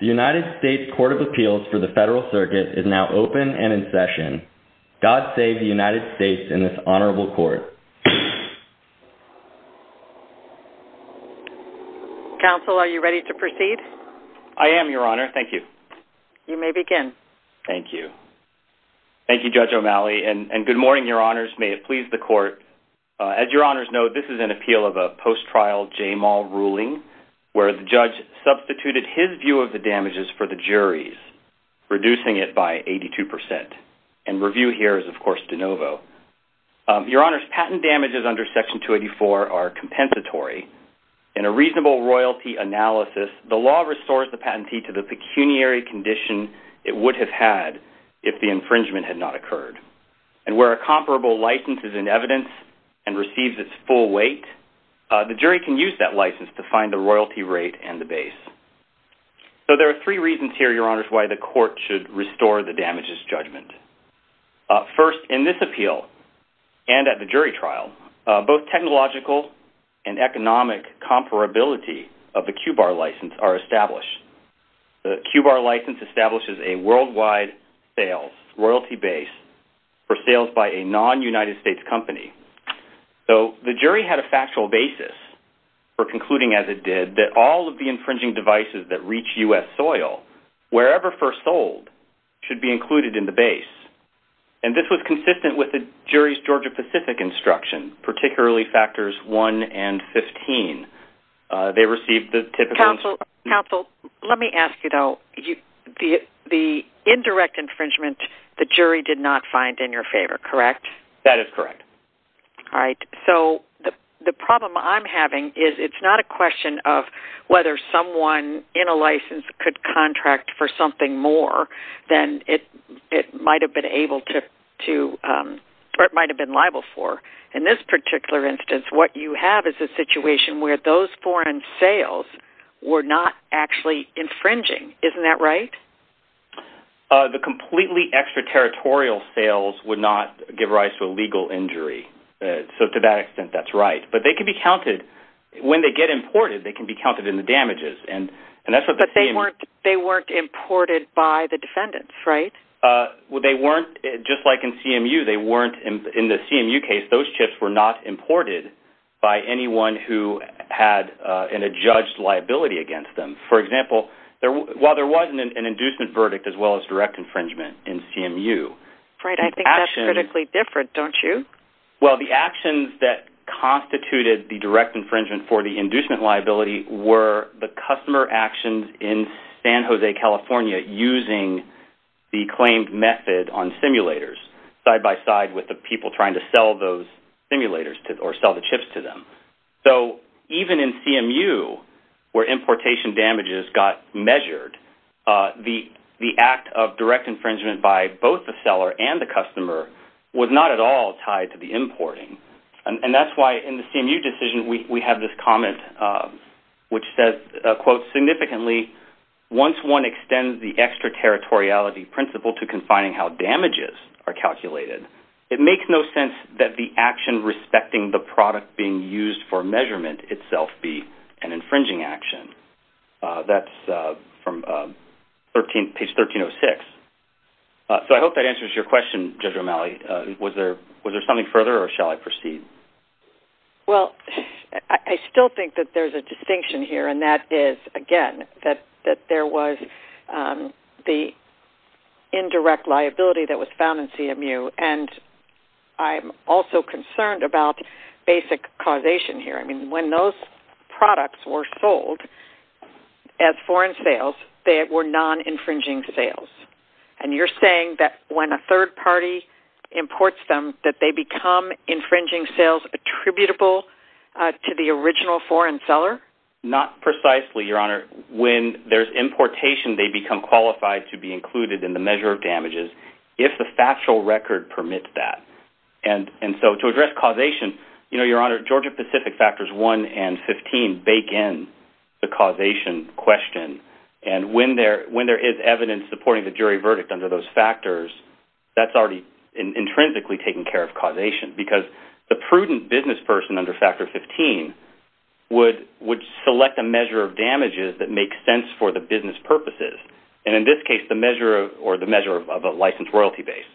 The U.S. Court of Appeals for the Federal Circuit is now open and in session. God save the United States in this honorable court. Counsel, are you ready to proceed? I am, Your Honor. Thank you. You may begin. Thank you. Thank you, Judge O'Malley, and good morning, Your Honors. May it please the judge substituted his view of the damages for the jury's, reducing it by 82%. And review here is, of course, de novo. Your Honors, patent damages under Section 284 are compensatory. In a reasonable royalty analysis, the law restores the patentee to the pecuniary condition it would have had if the infringement had not occurred. And where a comparable license is in evidence and receives its full weight, the jury can use that license to find the royalty rate and the base. So there are three reasons here, Your Honors, why the court should restore the damages judgment. First, in this appeal and at the jury trial, both technological and economic comparability of the QBAR license are established. The QBAR license establishes a worldwide sales, royalty base for sales by a non-United States company. So the jury had a factual basis for concluding, as it did, that all of the infringing devices that reach U.S. soil, wherever first sold, should be included in the base. And this was consistent with the jury's Georgia-Pacific instruction, particularly Factors 1 and 15. They received the typical... Counsel, counsel, let me ask you, though. The indirect infringement, the jury did not find in your favor, correct? That is correct. All right. So the problem I'm having is it's not a question of whether someone in a license could contract for something more than it might have been able to...or it might have been liable for. In this particular instance, what you have is a situation where those foreign sales were not actually infringing. Isn't that right? The completely extraterritorial sales would not give rise to a legal injury. So to that extent, that's right. But they could be counted...when they get imported, they can be counted in the damages. And that's what the... But they weren't imported by the defendants, right? Well, they weren't...just like in CMU, they weren't...in the CMU case, those chips were not imported by anyone who had an adjudged liability against them. For example, while there wasn't an inducement verdict as well as direct infringement in CMU... Right. I think that's critically different, don't you? Well, the actions that constituted the direct infringement for the inducement liability were the customer actions in San Jose, California, using the claimed method on simulators, side by side with the people trying to sell those simulators or sell the chips to them. So even in CMU, where importation damages got measured, the act of direct infringement by both the seller and the customer was not at all tied to the importing. And that's why in the CMU decision, we have this comment which says, quote, significantly, once one extends the extraterritoriality principle to confining how damages are calculated, it makes no sense that the action respecting the product being used for measurement itself be an infringing action. That's from page 1306. So I hope that answers your question, Judge Romali. Was there something further, or shall I proceed? Well, I still think that there's a distinction here, and that is, again, that there was the I'm also concerned about basic causation here. I mean, when those products were sold as foreign sales, they were non-infringing sales. And you're saying that when a third party imports them, that they become infringing sales attributable to the original foreign seller? Not precisely, Your Honor. When there's importation, they become qualified to be included in the And so to address causation, you know, Your Honor, Georgia-Pacific Factors 1 and 15 bake in the causation question. And when there is evidence supporting the jury verdict under those factors, that's already intrinsically taking care of causation, because the prudent businessperson under Factor 15 would select a measure of damages that makes sense for the business purposes, and in this case, the measure of a licensed royalty base.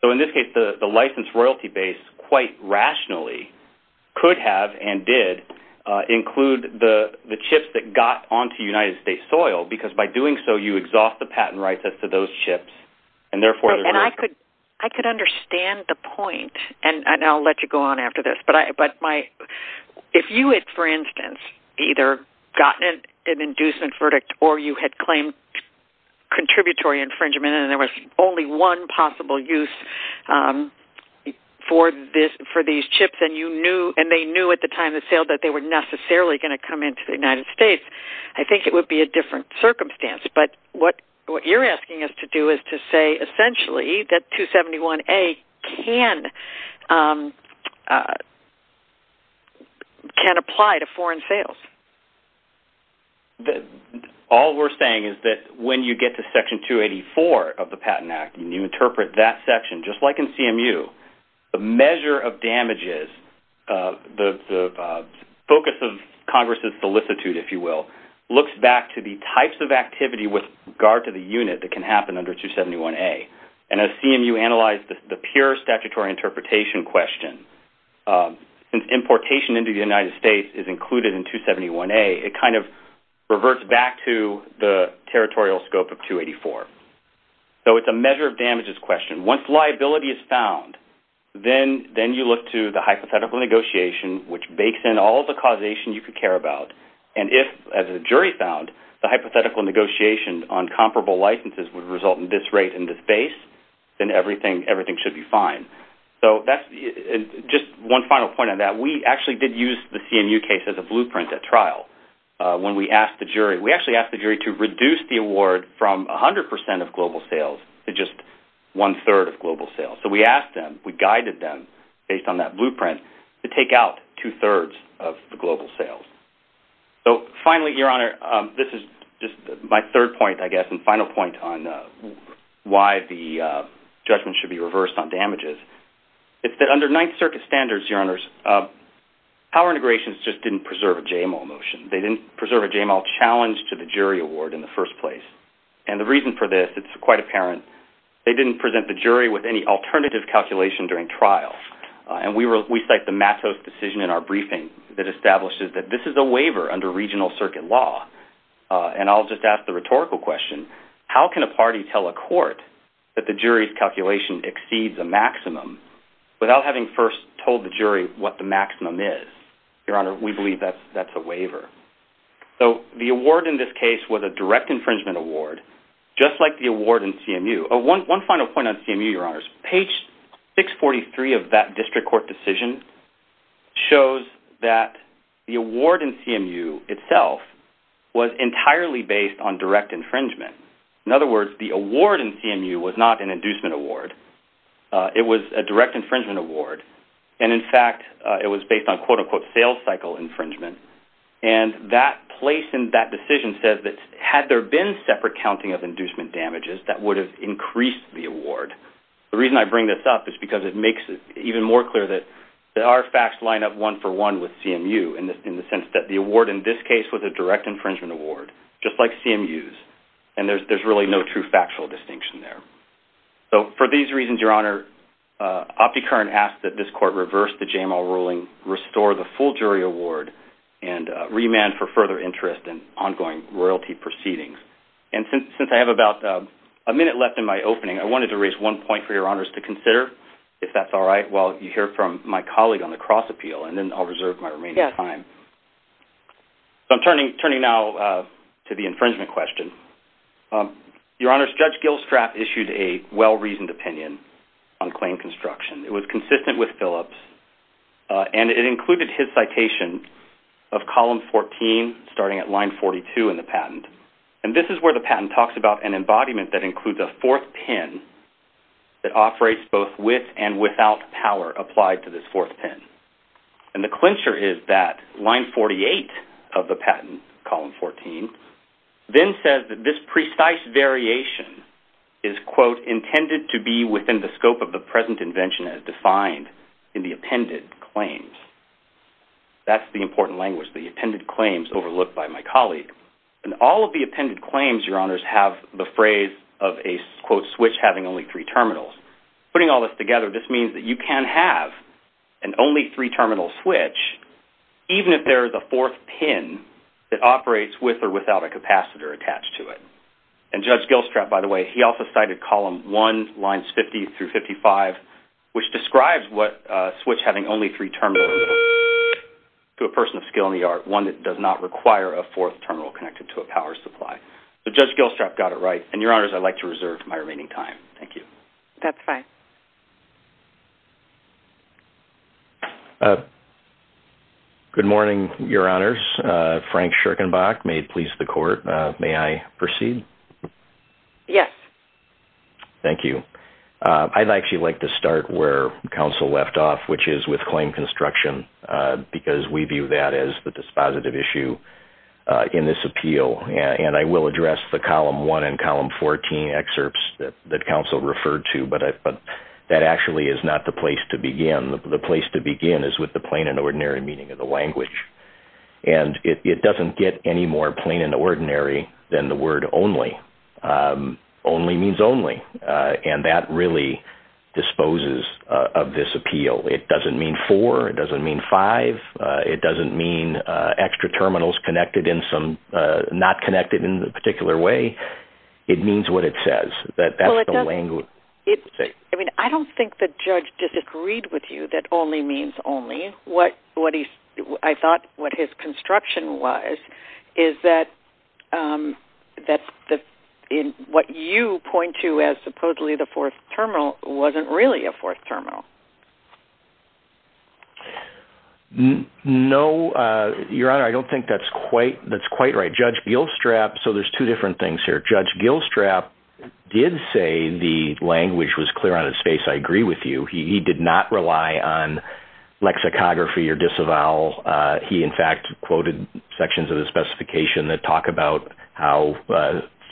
So in this case, the licensed royalty base, quite rationally, could have and did include the chips that got onto United States soil, because by doing so, you exhaust the patent rights as to those chips. And I could understand the point, and I'll let you go on after this, but if you had, for instance, either gotten an inducement verdict or you had claimed contributory infringement and there was only one possible use for these chips, and they knew at the time of sale that they were necessarily going to come into the United States, I think it would be a different circumstance. But what you're asking us to do is to say, essentially, that 271A can apply to foreign sales. All we're saying is that when you get to Section 284 of the Patent Act and you interpret that section, just like in CMU, the measure of damages, the focus of Congress's solicitude, if you will, looks back to the types of activity with regard to the unit that can happen under 271A. And as CMU analyzed the pure statutory interpretation question, since importation into the United States is included in 271A, it kind of reverts back to the territorial scope of 284. So it's a measure of damages question. Once liability is found, then you look to the hypothetical negotiation, which bakes in all the causation you could care about. And if, as the jury found, the hypothetical negotiation on comparable licenses would result in this rate and this base, then everything should be fine. So that's just one final point on that. We actually did use the CMU case as a blueprint at trial. When we asked the jury, we actually asked the jury to reduce the award from 100% of global sales to just one-third of global sales. So we asked them, we guided them, based on that blueprint, to take out two-thirds of the global sales. So finally, Your Honor, this is just my third point, I guess, and final point on why the jury reversed on damages. It's that under Ninth Circuit standards, Your Honors, power integrations just didn't preserve a JML motion. They didn't preserve a JML challenge to the jury award in the first place. And the reason for this, it's quite apparent, they didn't present the jury with any alternative calculation during trial. And we cite the Matos decision in our briefing that establishes that this is a waiver under regional circuit law. And I'll just ask the rhetorical question, how can a party tell a court that the jury's calculation exceeds a maximum without having first told the jury what the maximum is? Your Honor, we believe that's a waiver. So the award in this case was a direct infringement award, just like the award in CMU. One final point on CMU, Your Honors. Page 643 of that district court decision shows that the award in CMU itself was entirely based on direct infringement. In other words, the award in CMU, it was a direct infringement award. And in fact, it was based on quote-unquote sales cycle infringement. And that place in that decision says that had there been separate counting of inducement damages, that would have increased the award. The reason I bring this up is because it makes it even more clear that our facts line up one for one with CMU in the sense that the award in this case was a direct infringement award, just like CMU's. And there's really no true factual distinction there. So for these reasons, Your Honor, OptiCurrent asks that this court reverse the JML ruling, restore the full jury award, and remand for further interest in ongoing royalty proceedings. And since I have about a minute left in my opening, I wanted to raise one point for Your Honors to consider, if that's all right, while you hear from my colleague on the cross appeal, and then I'll reserve my remaining time. So I'm turning now to the infringement question. Your Honors, Judge Gilstrap issued a well-reasoned opinion on claim construction. It was consistent with Phillips, and it included his citation of column 14, starting at line 42 in the patent. And this is where the patent talks about an embodiment that includes a fourth pin that operates both with and without power applied to this fourth pin. And the clincher is that line 48 of the patent, column 14, then says that this precise variation is, quote, intended to be within the scope of the present invention as defined in the appended claims. That's the important language, the appended claims overlooked by my colleague. And all of the appended claims, Your Honors, have the phrase of a, quote, switch having only three terminals. Putting all this together, this means that you can have an only three terminal switch, even if there is a fourth pin that operates with or without a capacitor attached to it. And Judge Gilstrap, by the way, he also cited column 1, lines 50 through 55, which describes what a switch having only three terminals looks like to a person of skill and the art, one that does not require a fourth terminal connected to a power supply. So Judge Gilstrap got it right. And Your Honors, I'd like to reserve my remaining time. Thank you. That's fine. Good morning, Your Honors. Frank Scherkenbach, Maid Police of the Court. May I proceed? Yes. Thank you. I'd actually like to start where counsel left off, which is with claim construction, because we view that as the dispositive issue in this appeal. And I will address the column 1 and column 14 excerpts that counsel referred to, but that actually is not the place to begin. The place to begin is with the plain and ordinary meaning of the language. And it doesn't get any more plain and ordinary than the word only. Only means only. And that really disposes of this appeal. It doesn't mean four. It doesn't mean five. It doesn't mean extra terminals connected in some, not connected in a particular way. It means what it says. That's the language. Well, it doesn't, I mean, I don't think the judge disagreed with you that only means only. What he, I thought what his construction was is that what you point to as supposedly the fourth terminal wasn't really a fourth terminal. No, Your Honor, I don't think that's quite, that's quite right. Judge Gilstrap, so there's two different things here. Judge Gilstrap did say the language was clear out of space. I agree with you. He did not rely on lexicography or disavowal. He in fact quoted sections of the specification that talk about how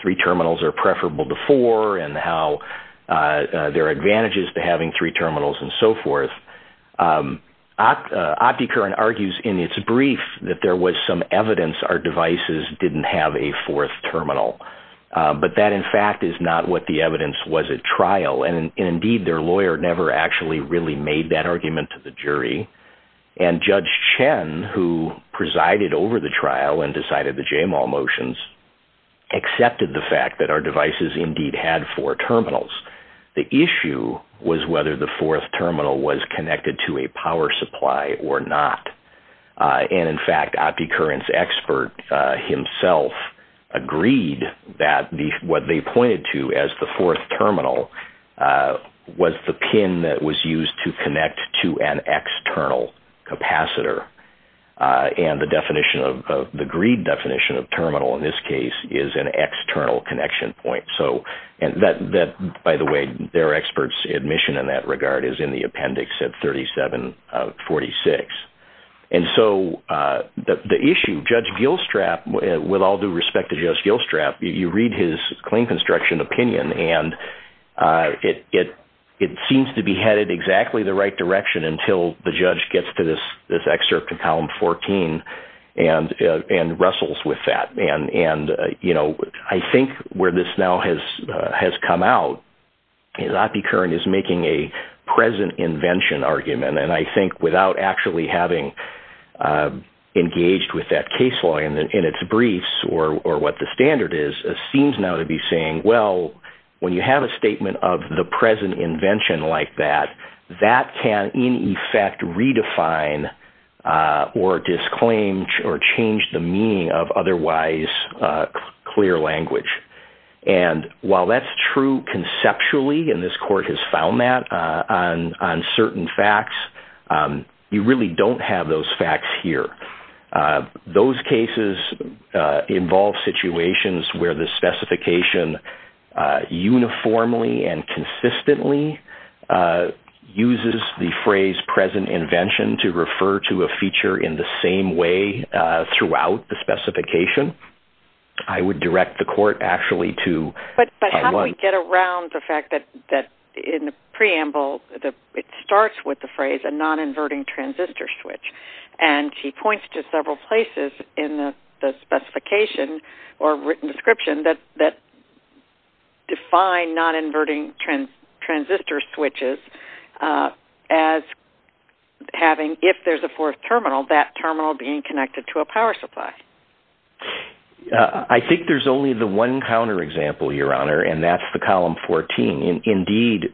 three terminals are preferable to four and how there are advantages to having three terminals and so forth. OptiCurrent argues in its brief that there was some evidence our devices didn't have a fourth terminal. But that in fact is not what the evidence was at trial. And indeed their lawyer never actually really made that decision, decided the JMOL motions, accepted the fact that our devices indeed had four terminals. The issue was whether the fourth terminal was connected to a power supply or not. And in fact, OptiCurrent's expert himself agreed that what they pointed to as the fourth terminal was the pin that was used to connect to an external capacitor. And the definition of, the greed definition of terminal in this case is an external connection point. So, and that, by the way, their expert's admission in that regard is in the appendix at 3746. And so the issue, Judge Gilstrap, with all due respect to Judge Gilstrap, you read his claim construction opinion and it seems to be headed exactly the right direction until the judge gets to this excerpt in column 14 and wrestles with that. And I think where this now has come out is OptiCurrent is making a present invention argument. And I think without actually having engaged with that case law in its briefs or what the standard is, it seems now to be saying, well, when you have a statement of the present invention like that, that can, in effect, redefine or disclaim or change the meaning of otherwise clear language. And while that's true conceptually, and this court has found that on certain facts, you really don't have those facts here. Those cases involve situations where the specification uniformly and consistently uses the phrase present invention to refer to a feature in the same way throughout the specification. I would direct the court actually to... But how do we get around the fact that in the preamble, it starts with the phrase a and it points to several places in the specification or written description that define non-inverting transistor switches as having, if there's a fourth terminal, that terminal being connected to a power supply? I think there's only the one counter example, Your Honor, and that's the column 14. Indeed,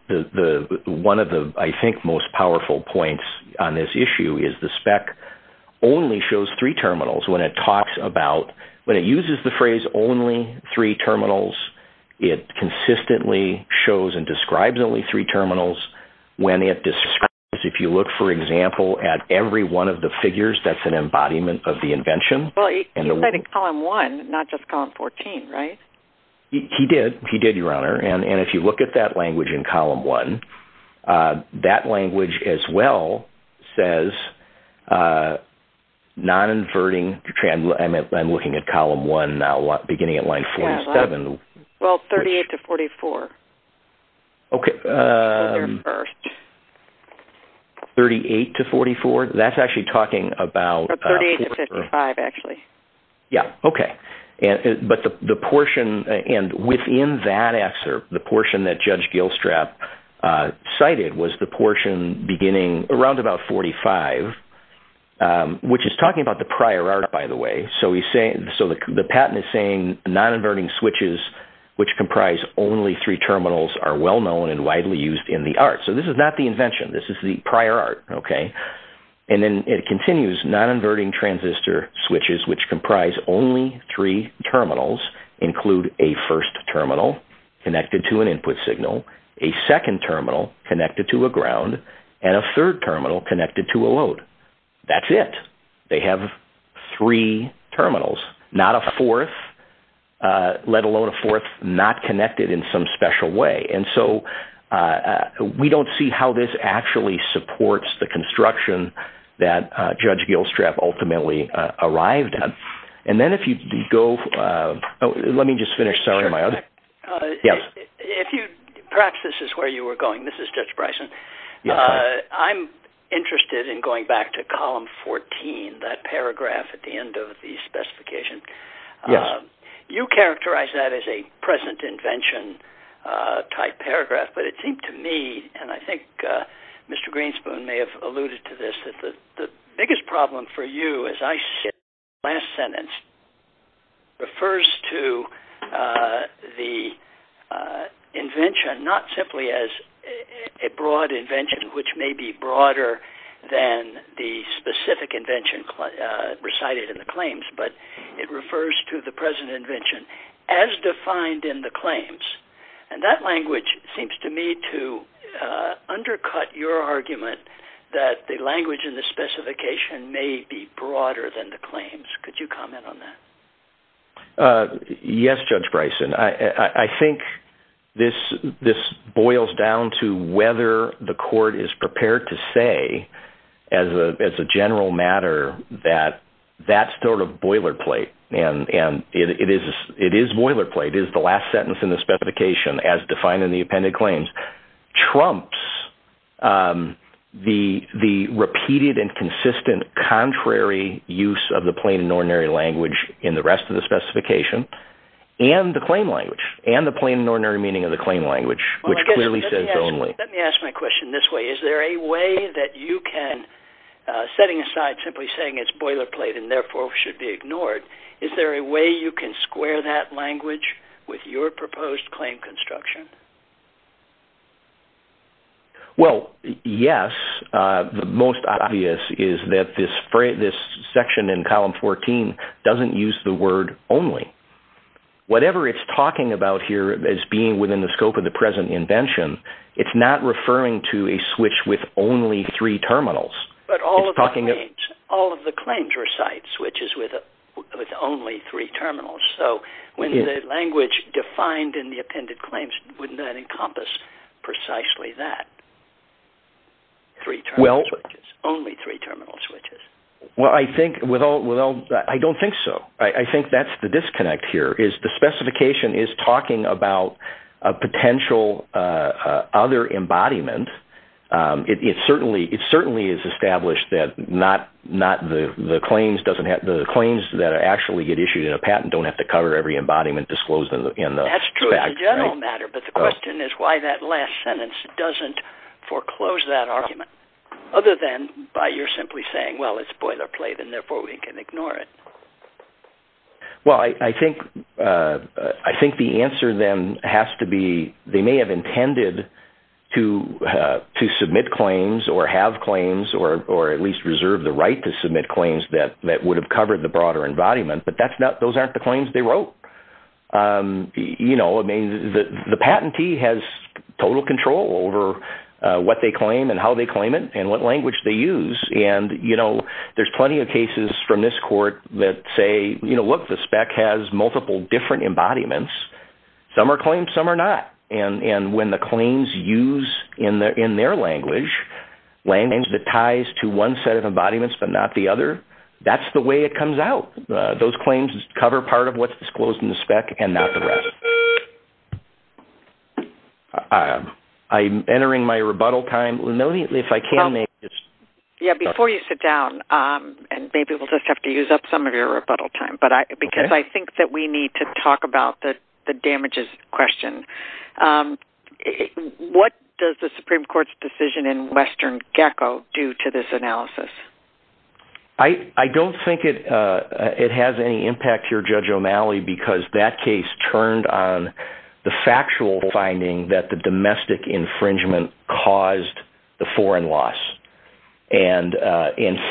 one of the, I think, most powerful points on this issue is the spec only shows three terminals when it talks about, when it uses the phrase only three terminals, it consistently shows and describes only three terminals when it describes, if you look, for example, at every one of the figures, that's an embodiment of the invention. Well, he cited column one, not just column 14, right? He did, he did, Your Honor, and if you look at that language in column one, that language as well says non-inverting... I'm looking at column one now, beginning at line 47. Well, 38 to 44. Okay. 38 to 44, that's actually talking about... 38 to 55, actually. Yeah, okay, but the portion, and within that excerpt, the portion that Judge Gilstrap cited was the portion beginning around about 45, which is talking about the prior art, by the way, so the patent is saying non-inverting switches, which comprise only three terminals, are well-known and widely used in the art. So this is not the invention, this is the prior art, okay? And then it continues, non-inverting transistor switches, which comprise only three terminals, include a first terminal connected to an input signal, a second terminal connected to a ground, and a third terminal connected to a load. That's it. They have three terminals, not a fourth, let alone a fourth not connected in some special way. And so we don't see how this actually supports the construction that Judge Gilstrap ultimately arrived at. And then if you go... Oh, let me just finish, sorry. Perhaps this is where you were going. This is Judge Bryson. I'm interested in going back to column 14, that paragraph at the end of the specification. Yes. You characterized that as a present invention-type paragraph, but it seemed to me, and I think Mr. Greenspoon may have alluded to this, that the biggest problem for you, as I see it, in the last sentence, refers to the invention not simply as a broad invention, which may be broader than the specific invention recited in the claims, but it refers to the present invention as defined in the claims. And that language seems to me to undercut your argument that the language in the specification may be broader than the claims. Could you comment on that? Yes, Judge Bryson. I think this boils down to whether the court is prepared to say, as a general matter, that that's sort of boilerplate. And it is boilerplate. It is the last sentence in the specification, as defined in the appended claims, trumps the repeated and consistent contrary use of the plain and ordinary language in the rest of the specification and the claim language, and the plain and ordinary meaning of the claim language, which clearly says only. Let me ask my question this way. Is there a way that you can, setting aside simply saying it's boilerplate and therefore should be ignored, is there a way you can square that language with your proposed claim construction? Well, yes. The most obvious is that this section in column 14 doesn't use the word only. Whatever it's talking about here as being within the scope of the present invention, it's not referring to a switch with only three terminals. But all of the claims recite switches with only three terminals. So when the language defined in the appended claims, wouldn't that encompass precisely that? Only three terminal switches. Well, I don't think so. I think that's the disconnect here. The specification is talking about a potential other embodiment. It certainly is established that the claims that actually get issued in a patent don't have to cover every embodiment disclosed in the facts. That's true as a general matter, but the question is why that last sentence doesn't foreclose that argument other than by your simply saying, well, it's boilerplate and therefore we can ignore it. Well, I think the answer then has to be they may have intended to submit claims or have claims or at least reserve the right to submit claims that would have covered the broader embodiment, but those aren't the claims they wrote. The patentee has total control over what they claim and how they claim it and what language they use. There's plenty of cases from this court that say, look, the spec has multiple different embodiments. Some are claimed, some are not. And when the claims used in their language, language that ties to one set of embodiments but not the other, that's the way it comes out. Those claims cover part of what's disclosed in the spec and not the rest. I'm entering my rebuttal time. Before you sit down, and maybe we'll just have to use up some of your rebuttal time, because I think that we need to talk about the damages question. What does the Supreme Court's decision in Western Gecko do to this analysis? I don't think it has any impact here, Judge O'Malley, because that case turned on the factual finding that the domestic infringement caused the foreign loss. And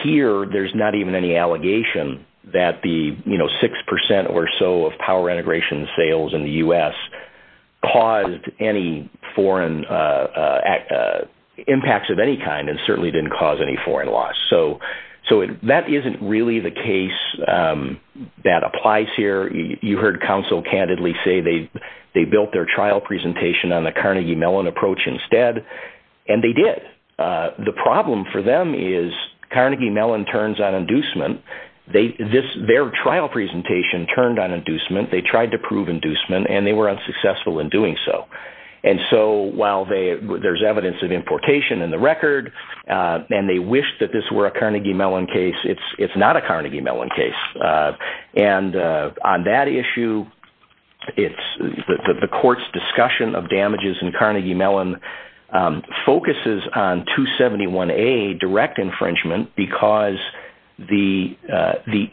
here, there's not even any allegation that the 6% or so of power integration sales in the U.S. caused any foreign impacts of any kind and certainly didn't cause any foreign loss. So that isn't really the case that applies here. You heard counsel candidly say they built their trial presentation on the Carnegie Mellon approach instead, and they did. The problem for them is Carnegie Mellon turns on inducement. Their trial presentation turned on inducement. They tried to prove inducement, and they were unsuccessful in doing so. And so while there's evidence of importation in the record, and they wish that this were a Carnegie Mellon case, it's not a Carnegie Mellon case. And on that issue, the court's discussion of damages in Carnegie Mellon focuses on 271A, direct infringement, because the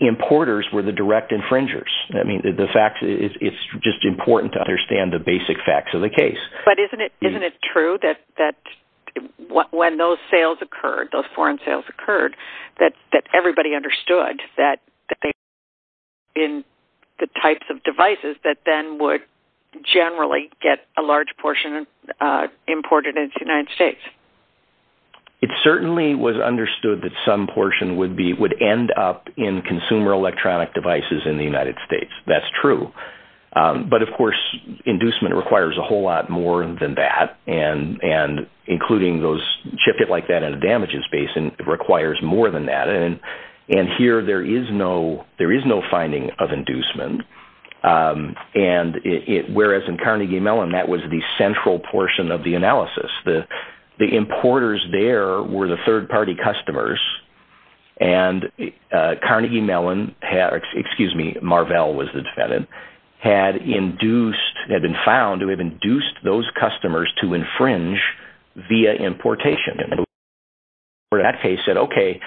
importers were the direct infringers. It's just important to understand the basic facts of the case. But isn't it true that when those sales occurred, those foreign sales occurred, that everybody understood that they were in the types of devices that then would generally get a large portion imported into the United States? It certainly was understood that some portion would end up in consumer electronic devices in the United States. That's true. But, of course, inducement requires a whole lot more than that, including those shipments like that in a damages basin requires more than that. And here, there is no finding of inducement, whereas in Carnegie Mellon, that was the central portion of the analysis. The importers there were the third-party customers, and Carnegie Mellon, excuse me, Marvell was the defendant, had been found to have induced those customers to infringe via importation. And the court in that case said, okay,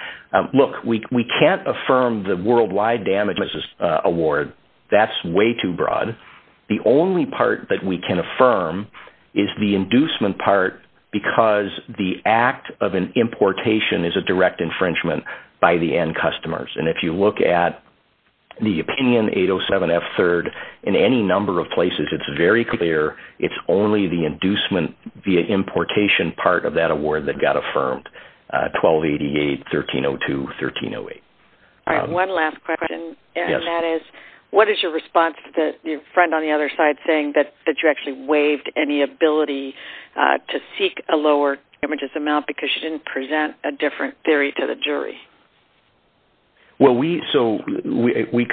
look, we can't affirm the worldwide damages award. That's way too broad. The only part that we can affirm is the inducement part, because the act of an importation is a direct infringement by the end customers. And if you look at the opinion 807F third, in any number of places, it's very clear. It's only the inducement via importation part of that award that got affirmed, 1288, 1302, 1308. All right. One last question, and that is, what is your response to your friend on the other side saying that you actually waived any ability to seek a lower damages amount Well, we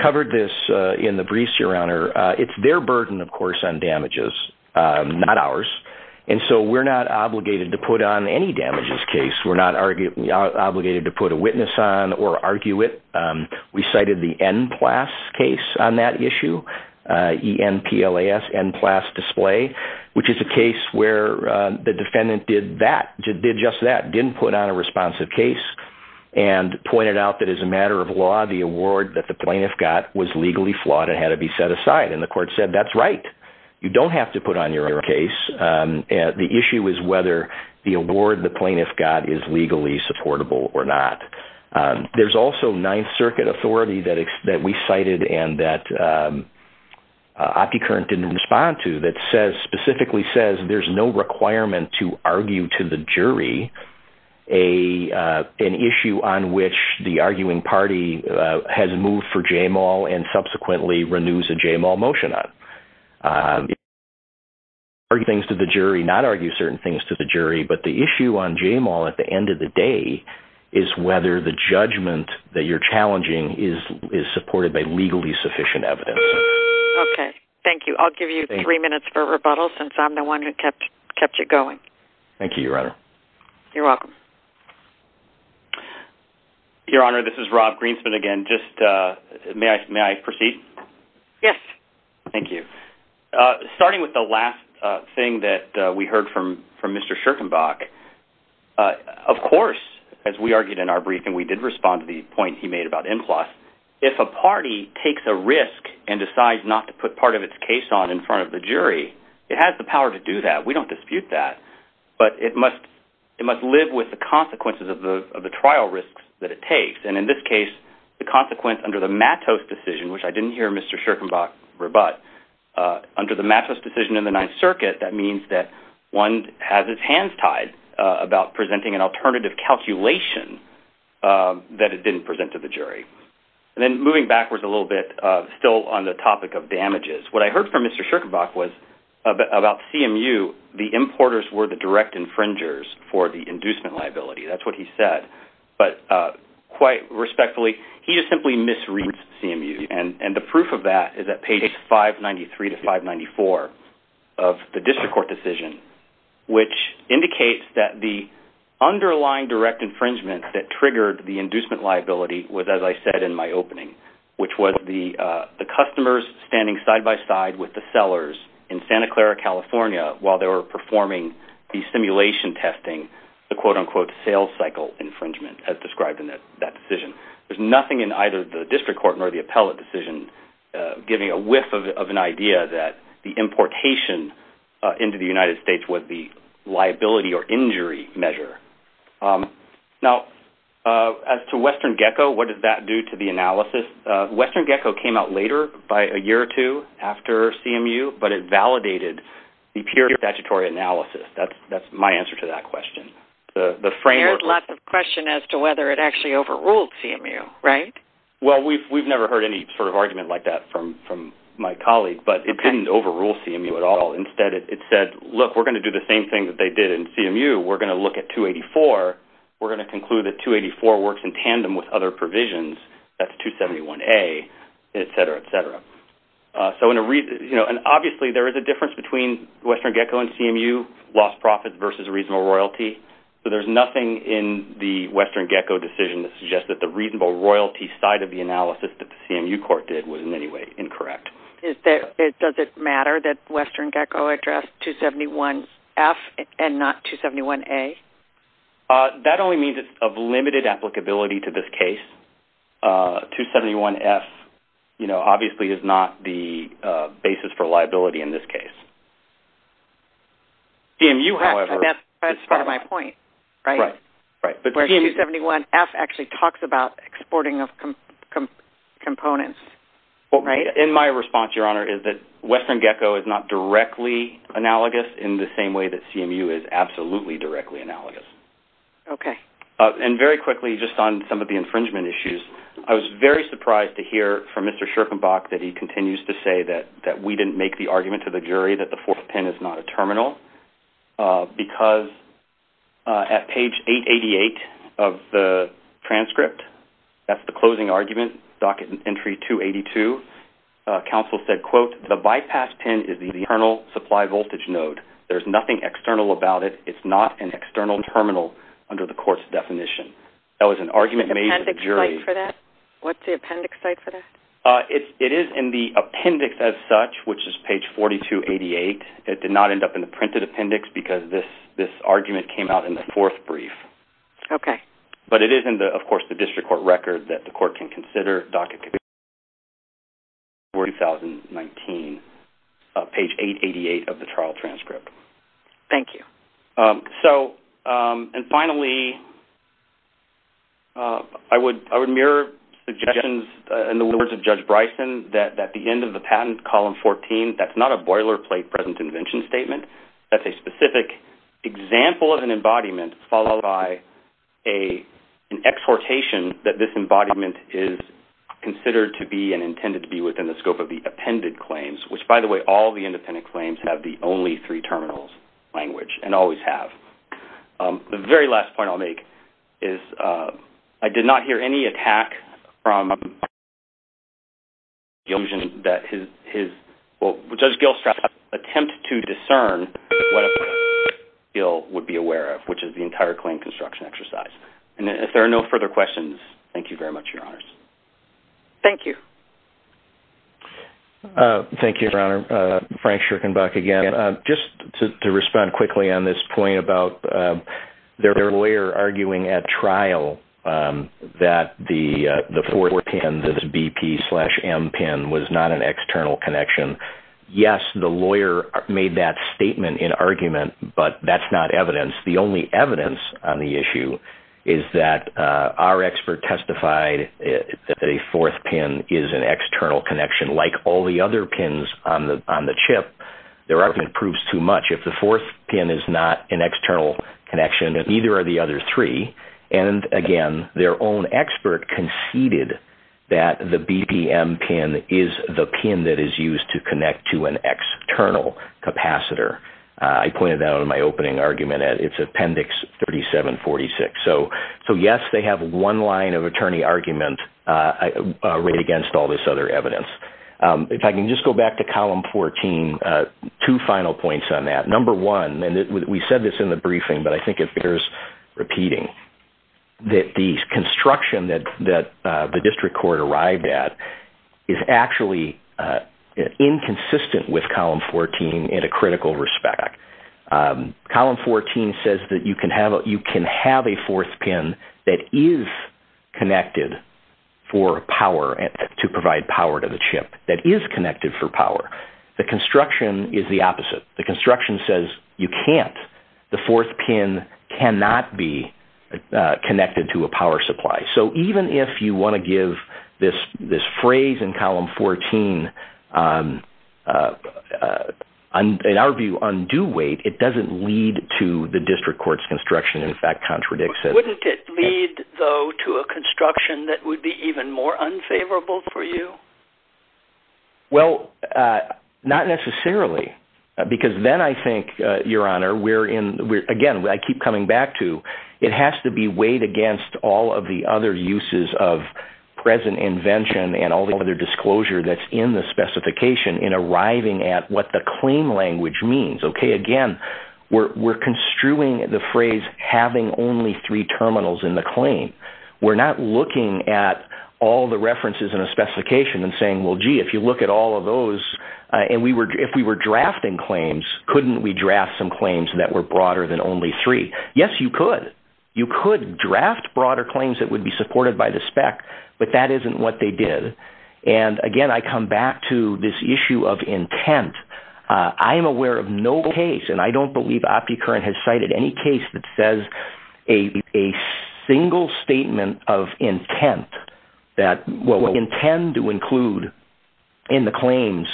covered this in the briefs, Your Honor. It's their burden, of course, on damages, not ours. And so we're not obligated to put on any damages case. We're not obligated to put a witness on or argue it. We cited the NPLAS case on that issue, E-N-P-L-A-S, NPLAS display, which is a case where the defendant did that, did just that, didn't put on a responsive case. And pointed out that as a matter of law, the award that the plaintiff got was legally flawed and had to be set aside. And the court said, that's right. You don't have to put on your case. The issue is whether the award the plaintiff got is legally supportable or not. There's also Ninth Circuit authority that we cited and that OptiCurrent didn't respond to that specifically says there's no requirement to argue to the jury an issue on which the arguing party has moved for J-Mall and subsequently renews a J-Mall motion on. Argue things to the jury, not argue certain things to the jury, but the issue on J-Mall at the end of the day is whether the judgment that you're challenging is supported by legally sufficient evidence. Okay, thank you. I'll give you three minutes for rebuttal since I'm the one who kept you going. Thank you, Your Honor. You're welcome. Your Honor, this is Rob Greenspan again. May I proceed? Yes. Thank you. Starting with the last thing that we heard from Mr. Schirkenbach, of course, as we argued in our briefing, we did respond to the point he made about NPLAS. If a party takes a risk and decides not to put part of its case on in front of the jury, it has the power to do that. We don't dispute that. But it must live with the consequences of the trial risks that it takes, and in this case, the consequence under the Mattos decision, which I didn't hear Mr. Schirkenbach rebut, under the Mattos decision in the Ninth Circuit, that means that one has its hands tied about presenting an alternative calculation that it didn't present to the jury. And then moving backwards a little bit, still on the topic of damages, what I heard from Mr. Schirkenbach was about CMU, the importers were the direct infringers for the inducement liability. That's what he said. But quite respectfully, he just simply misread CMU, and the proof of that is at page 593 to 594 of the district court decision, which indicates that the underlying direct infringement that triggered the inducement liability was, as I said in my opening, which was the customers standing side-by-side with the sellers in Santa Clara, California, while they were performing the simulation testing, the quote-unquote sales cycle infringement as described in that decision. There's nothing in either the district court nor the appellate decision giving a whiff of an idea that the importation into the United States was the liability or injury measure. Now, as to Western Gecko, what does that do to the analysis? Western Gecko came out later, by a year or two after CMU, but it validated the pure statutory analysis. That's my answer to that question. There's lots of questions as to whether it actually overruled CMU, right? Well, we've never heard any sort of argument like that from my colleague, but it didn't overrule CMU at all. Instead, it said, look, we're going to do the same thing that they did in CMU. We're going to look at 284. We're going to conclude that 284 works in tandem with other provisions. That's 271A, et cetera, et cetera. Obviously, there is a difference between Western Gecko and CMU, lost profit versus reasonable royalty. There's nothing in the Western Gecko decision that suggests that the reasonable royalty side of the analysis that the CMU court did was in any way incorrect. Does it matter that Western Gecko addressed 271F and not 271A? That only means it's of limited applicability to this case. 271F, you know, obviously is not the basis for liability in this case. CMU, however. That's part of my point, right? Right. Where 271F actually talks about exporting of components, right? In my response, Your Honor, is that Western Gecko is not directly analogous in the same way that CMU is absolutely directly analogous. Okay. And very quickly, just on some of the infringement issues, I was very surprised to hear from Mr. Scherkenbach that he continues to say that we didn't make the argument to the jury that the fourth pin is not a terminal because at page 888 of the transcript, that's the closing argument, docket entry 282, counsel said, quote, the bypass pin is the internal supply voltage node. There's nothing external about it. It's not an external terminal under the court's definition. That was an argument made to the jury. What's the appendix site for that? It is in the appendix as such, which is page 4288. It did not end up in the printed appendix because this argument came out in the fourth brief. Okay. But it is in the, of course, the district court record that the court can consider, docket 2019, page 888 of the trial transcript. Thank you. So, and finally, I would mirror suggestions in the words of Judge Bryson that at the end of the patent, column 14, that's not a boilerplate present invention statement. That's a specific example of an embodiment, followed by an exhortation that this embodiment is considered to be and intended to be within the scope of the appended claims, which, by the way, all the independent claims have the only three terminals language and always have. The very last point I'll make is I did not hear any attack from Judge Gilstratz's to discern what a bill would be aware of, which is the entire claim construction exercise. And if there are no further questions, thank you very much, Your Honors. Thank you. Thank you, Your Honor. Frank Shurkenbach again. Just to respond quickly on this point about their lawyer arguing at trial that the four pin, the BP slash M pin was not an external connection. Yes, the lawyer made that statement in argument, but that's not evidence. The only evidence on the issue is that our expert testified that a fourth pin is an external connection, like all the other pins on the chip. There aren't any proofs too much. If the fourth pin is not an external connection, neither are the other three. And, again, their own expert conceded that the BPM pin is the pin that is used to connect to an external capacitor. I pointed that out in my opening argument. It's Appendix 3746. So, yes, they have one line of attorney argument right against all this other evidence. If I can just go back to Column 14, two final points on that. Number one, and we said this in the briefing, but I think it bears repeating, that the construction that the district court arrived at is actually inconsistent with Column 14 in a critical respect. Column 14 says that you can have a fourth pin that is connected for power, to provide power to the chip, that is connected for power. The construction is the opposite. The construction says you can't. The fourth pin cannot be connected to a power supply. So even if you want to give this phrase in Column 14, in our view, undue weight, it doesn't lead to the district court's construction in fact contradicts it. Wouldn't it lead, though, to a construction that would be even more unfavorable for you? Well, not necessarily. Because then I think, Your Honor, we're in, again, I keep coming back to, it has to be weighed against all of the other uses of present invention and all the other disclosure that's in the specification in arriving at what the claim language means. Okay, again, we're construing the phrase having only three terminals in the claim. We're not looking at all the references in a specification and saying, well, gee, if you look at all of those, and if we were drafting claims, couldn't we draft some claims that were broader than only three? Yes, you could. You could draft broader claims that would be supported by the spec, but that isn't what they did. And, again, I come back to this issue of intent. I am aware of no case, and I don't believe OptiCurrent has cited any case that says a single statement of intent that what we intend to include in the claims,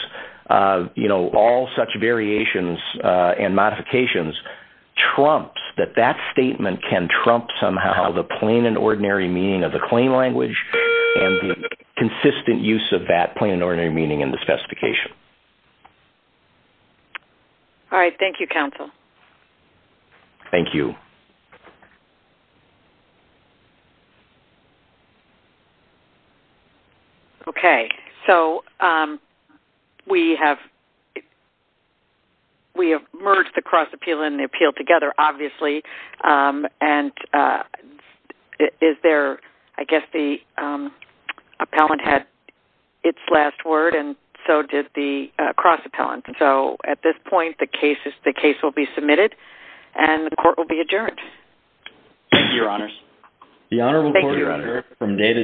you know, all such variations and modifications, trumps that that statement can trump somehow the plain and ordinary meaning of the claim language and the consistent use of that plain and ordinary meaning in the specification. All right, thank you, counsel. Thank you. Okay, so we have merged the cross-appeal and the appeal together, obviously. And is there, I guess the appellant had its last word, and so did the cross-appellant. So, at this point, the case will be submitted, and the court will be adjourned. Thank you, Your Honors. The Honorable Court is adjourned from day to day.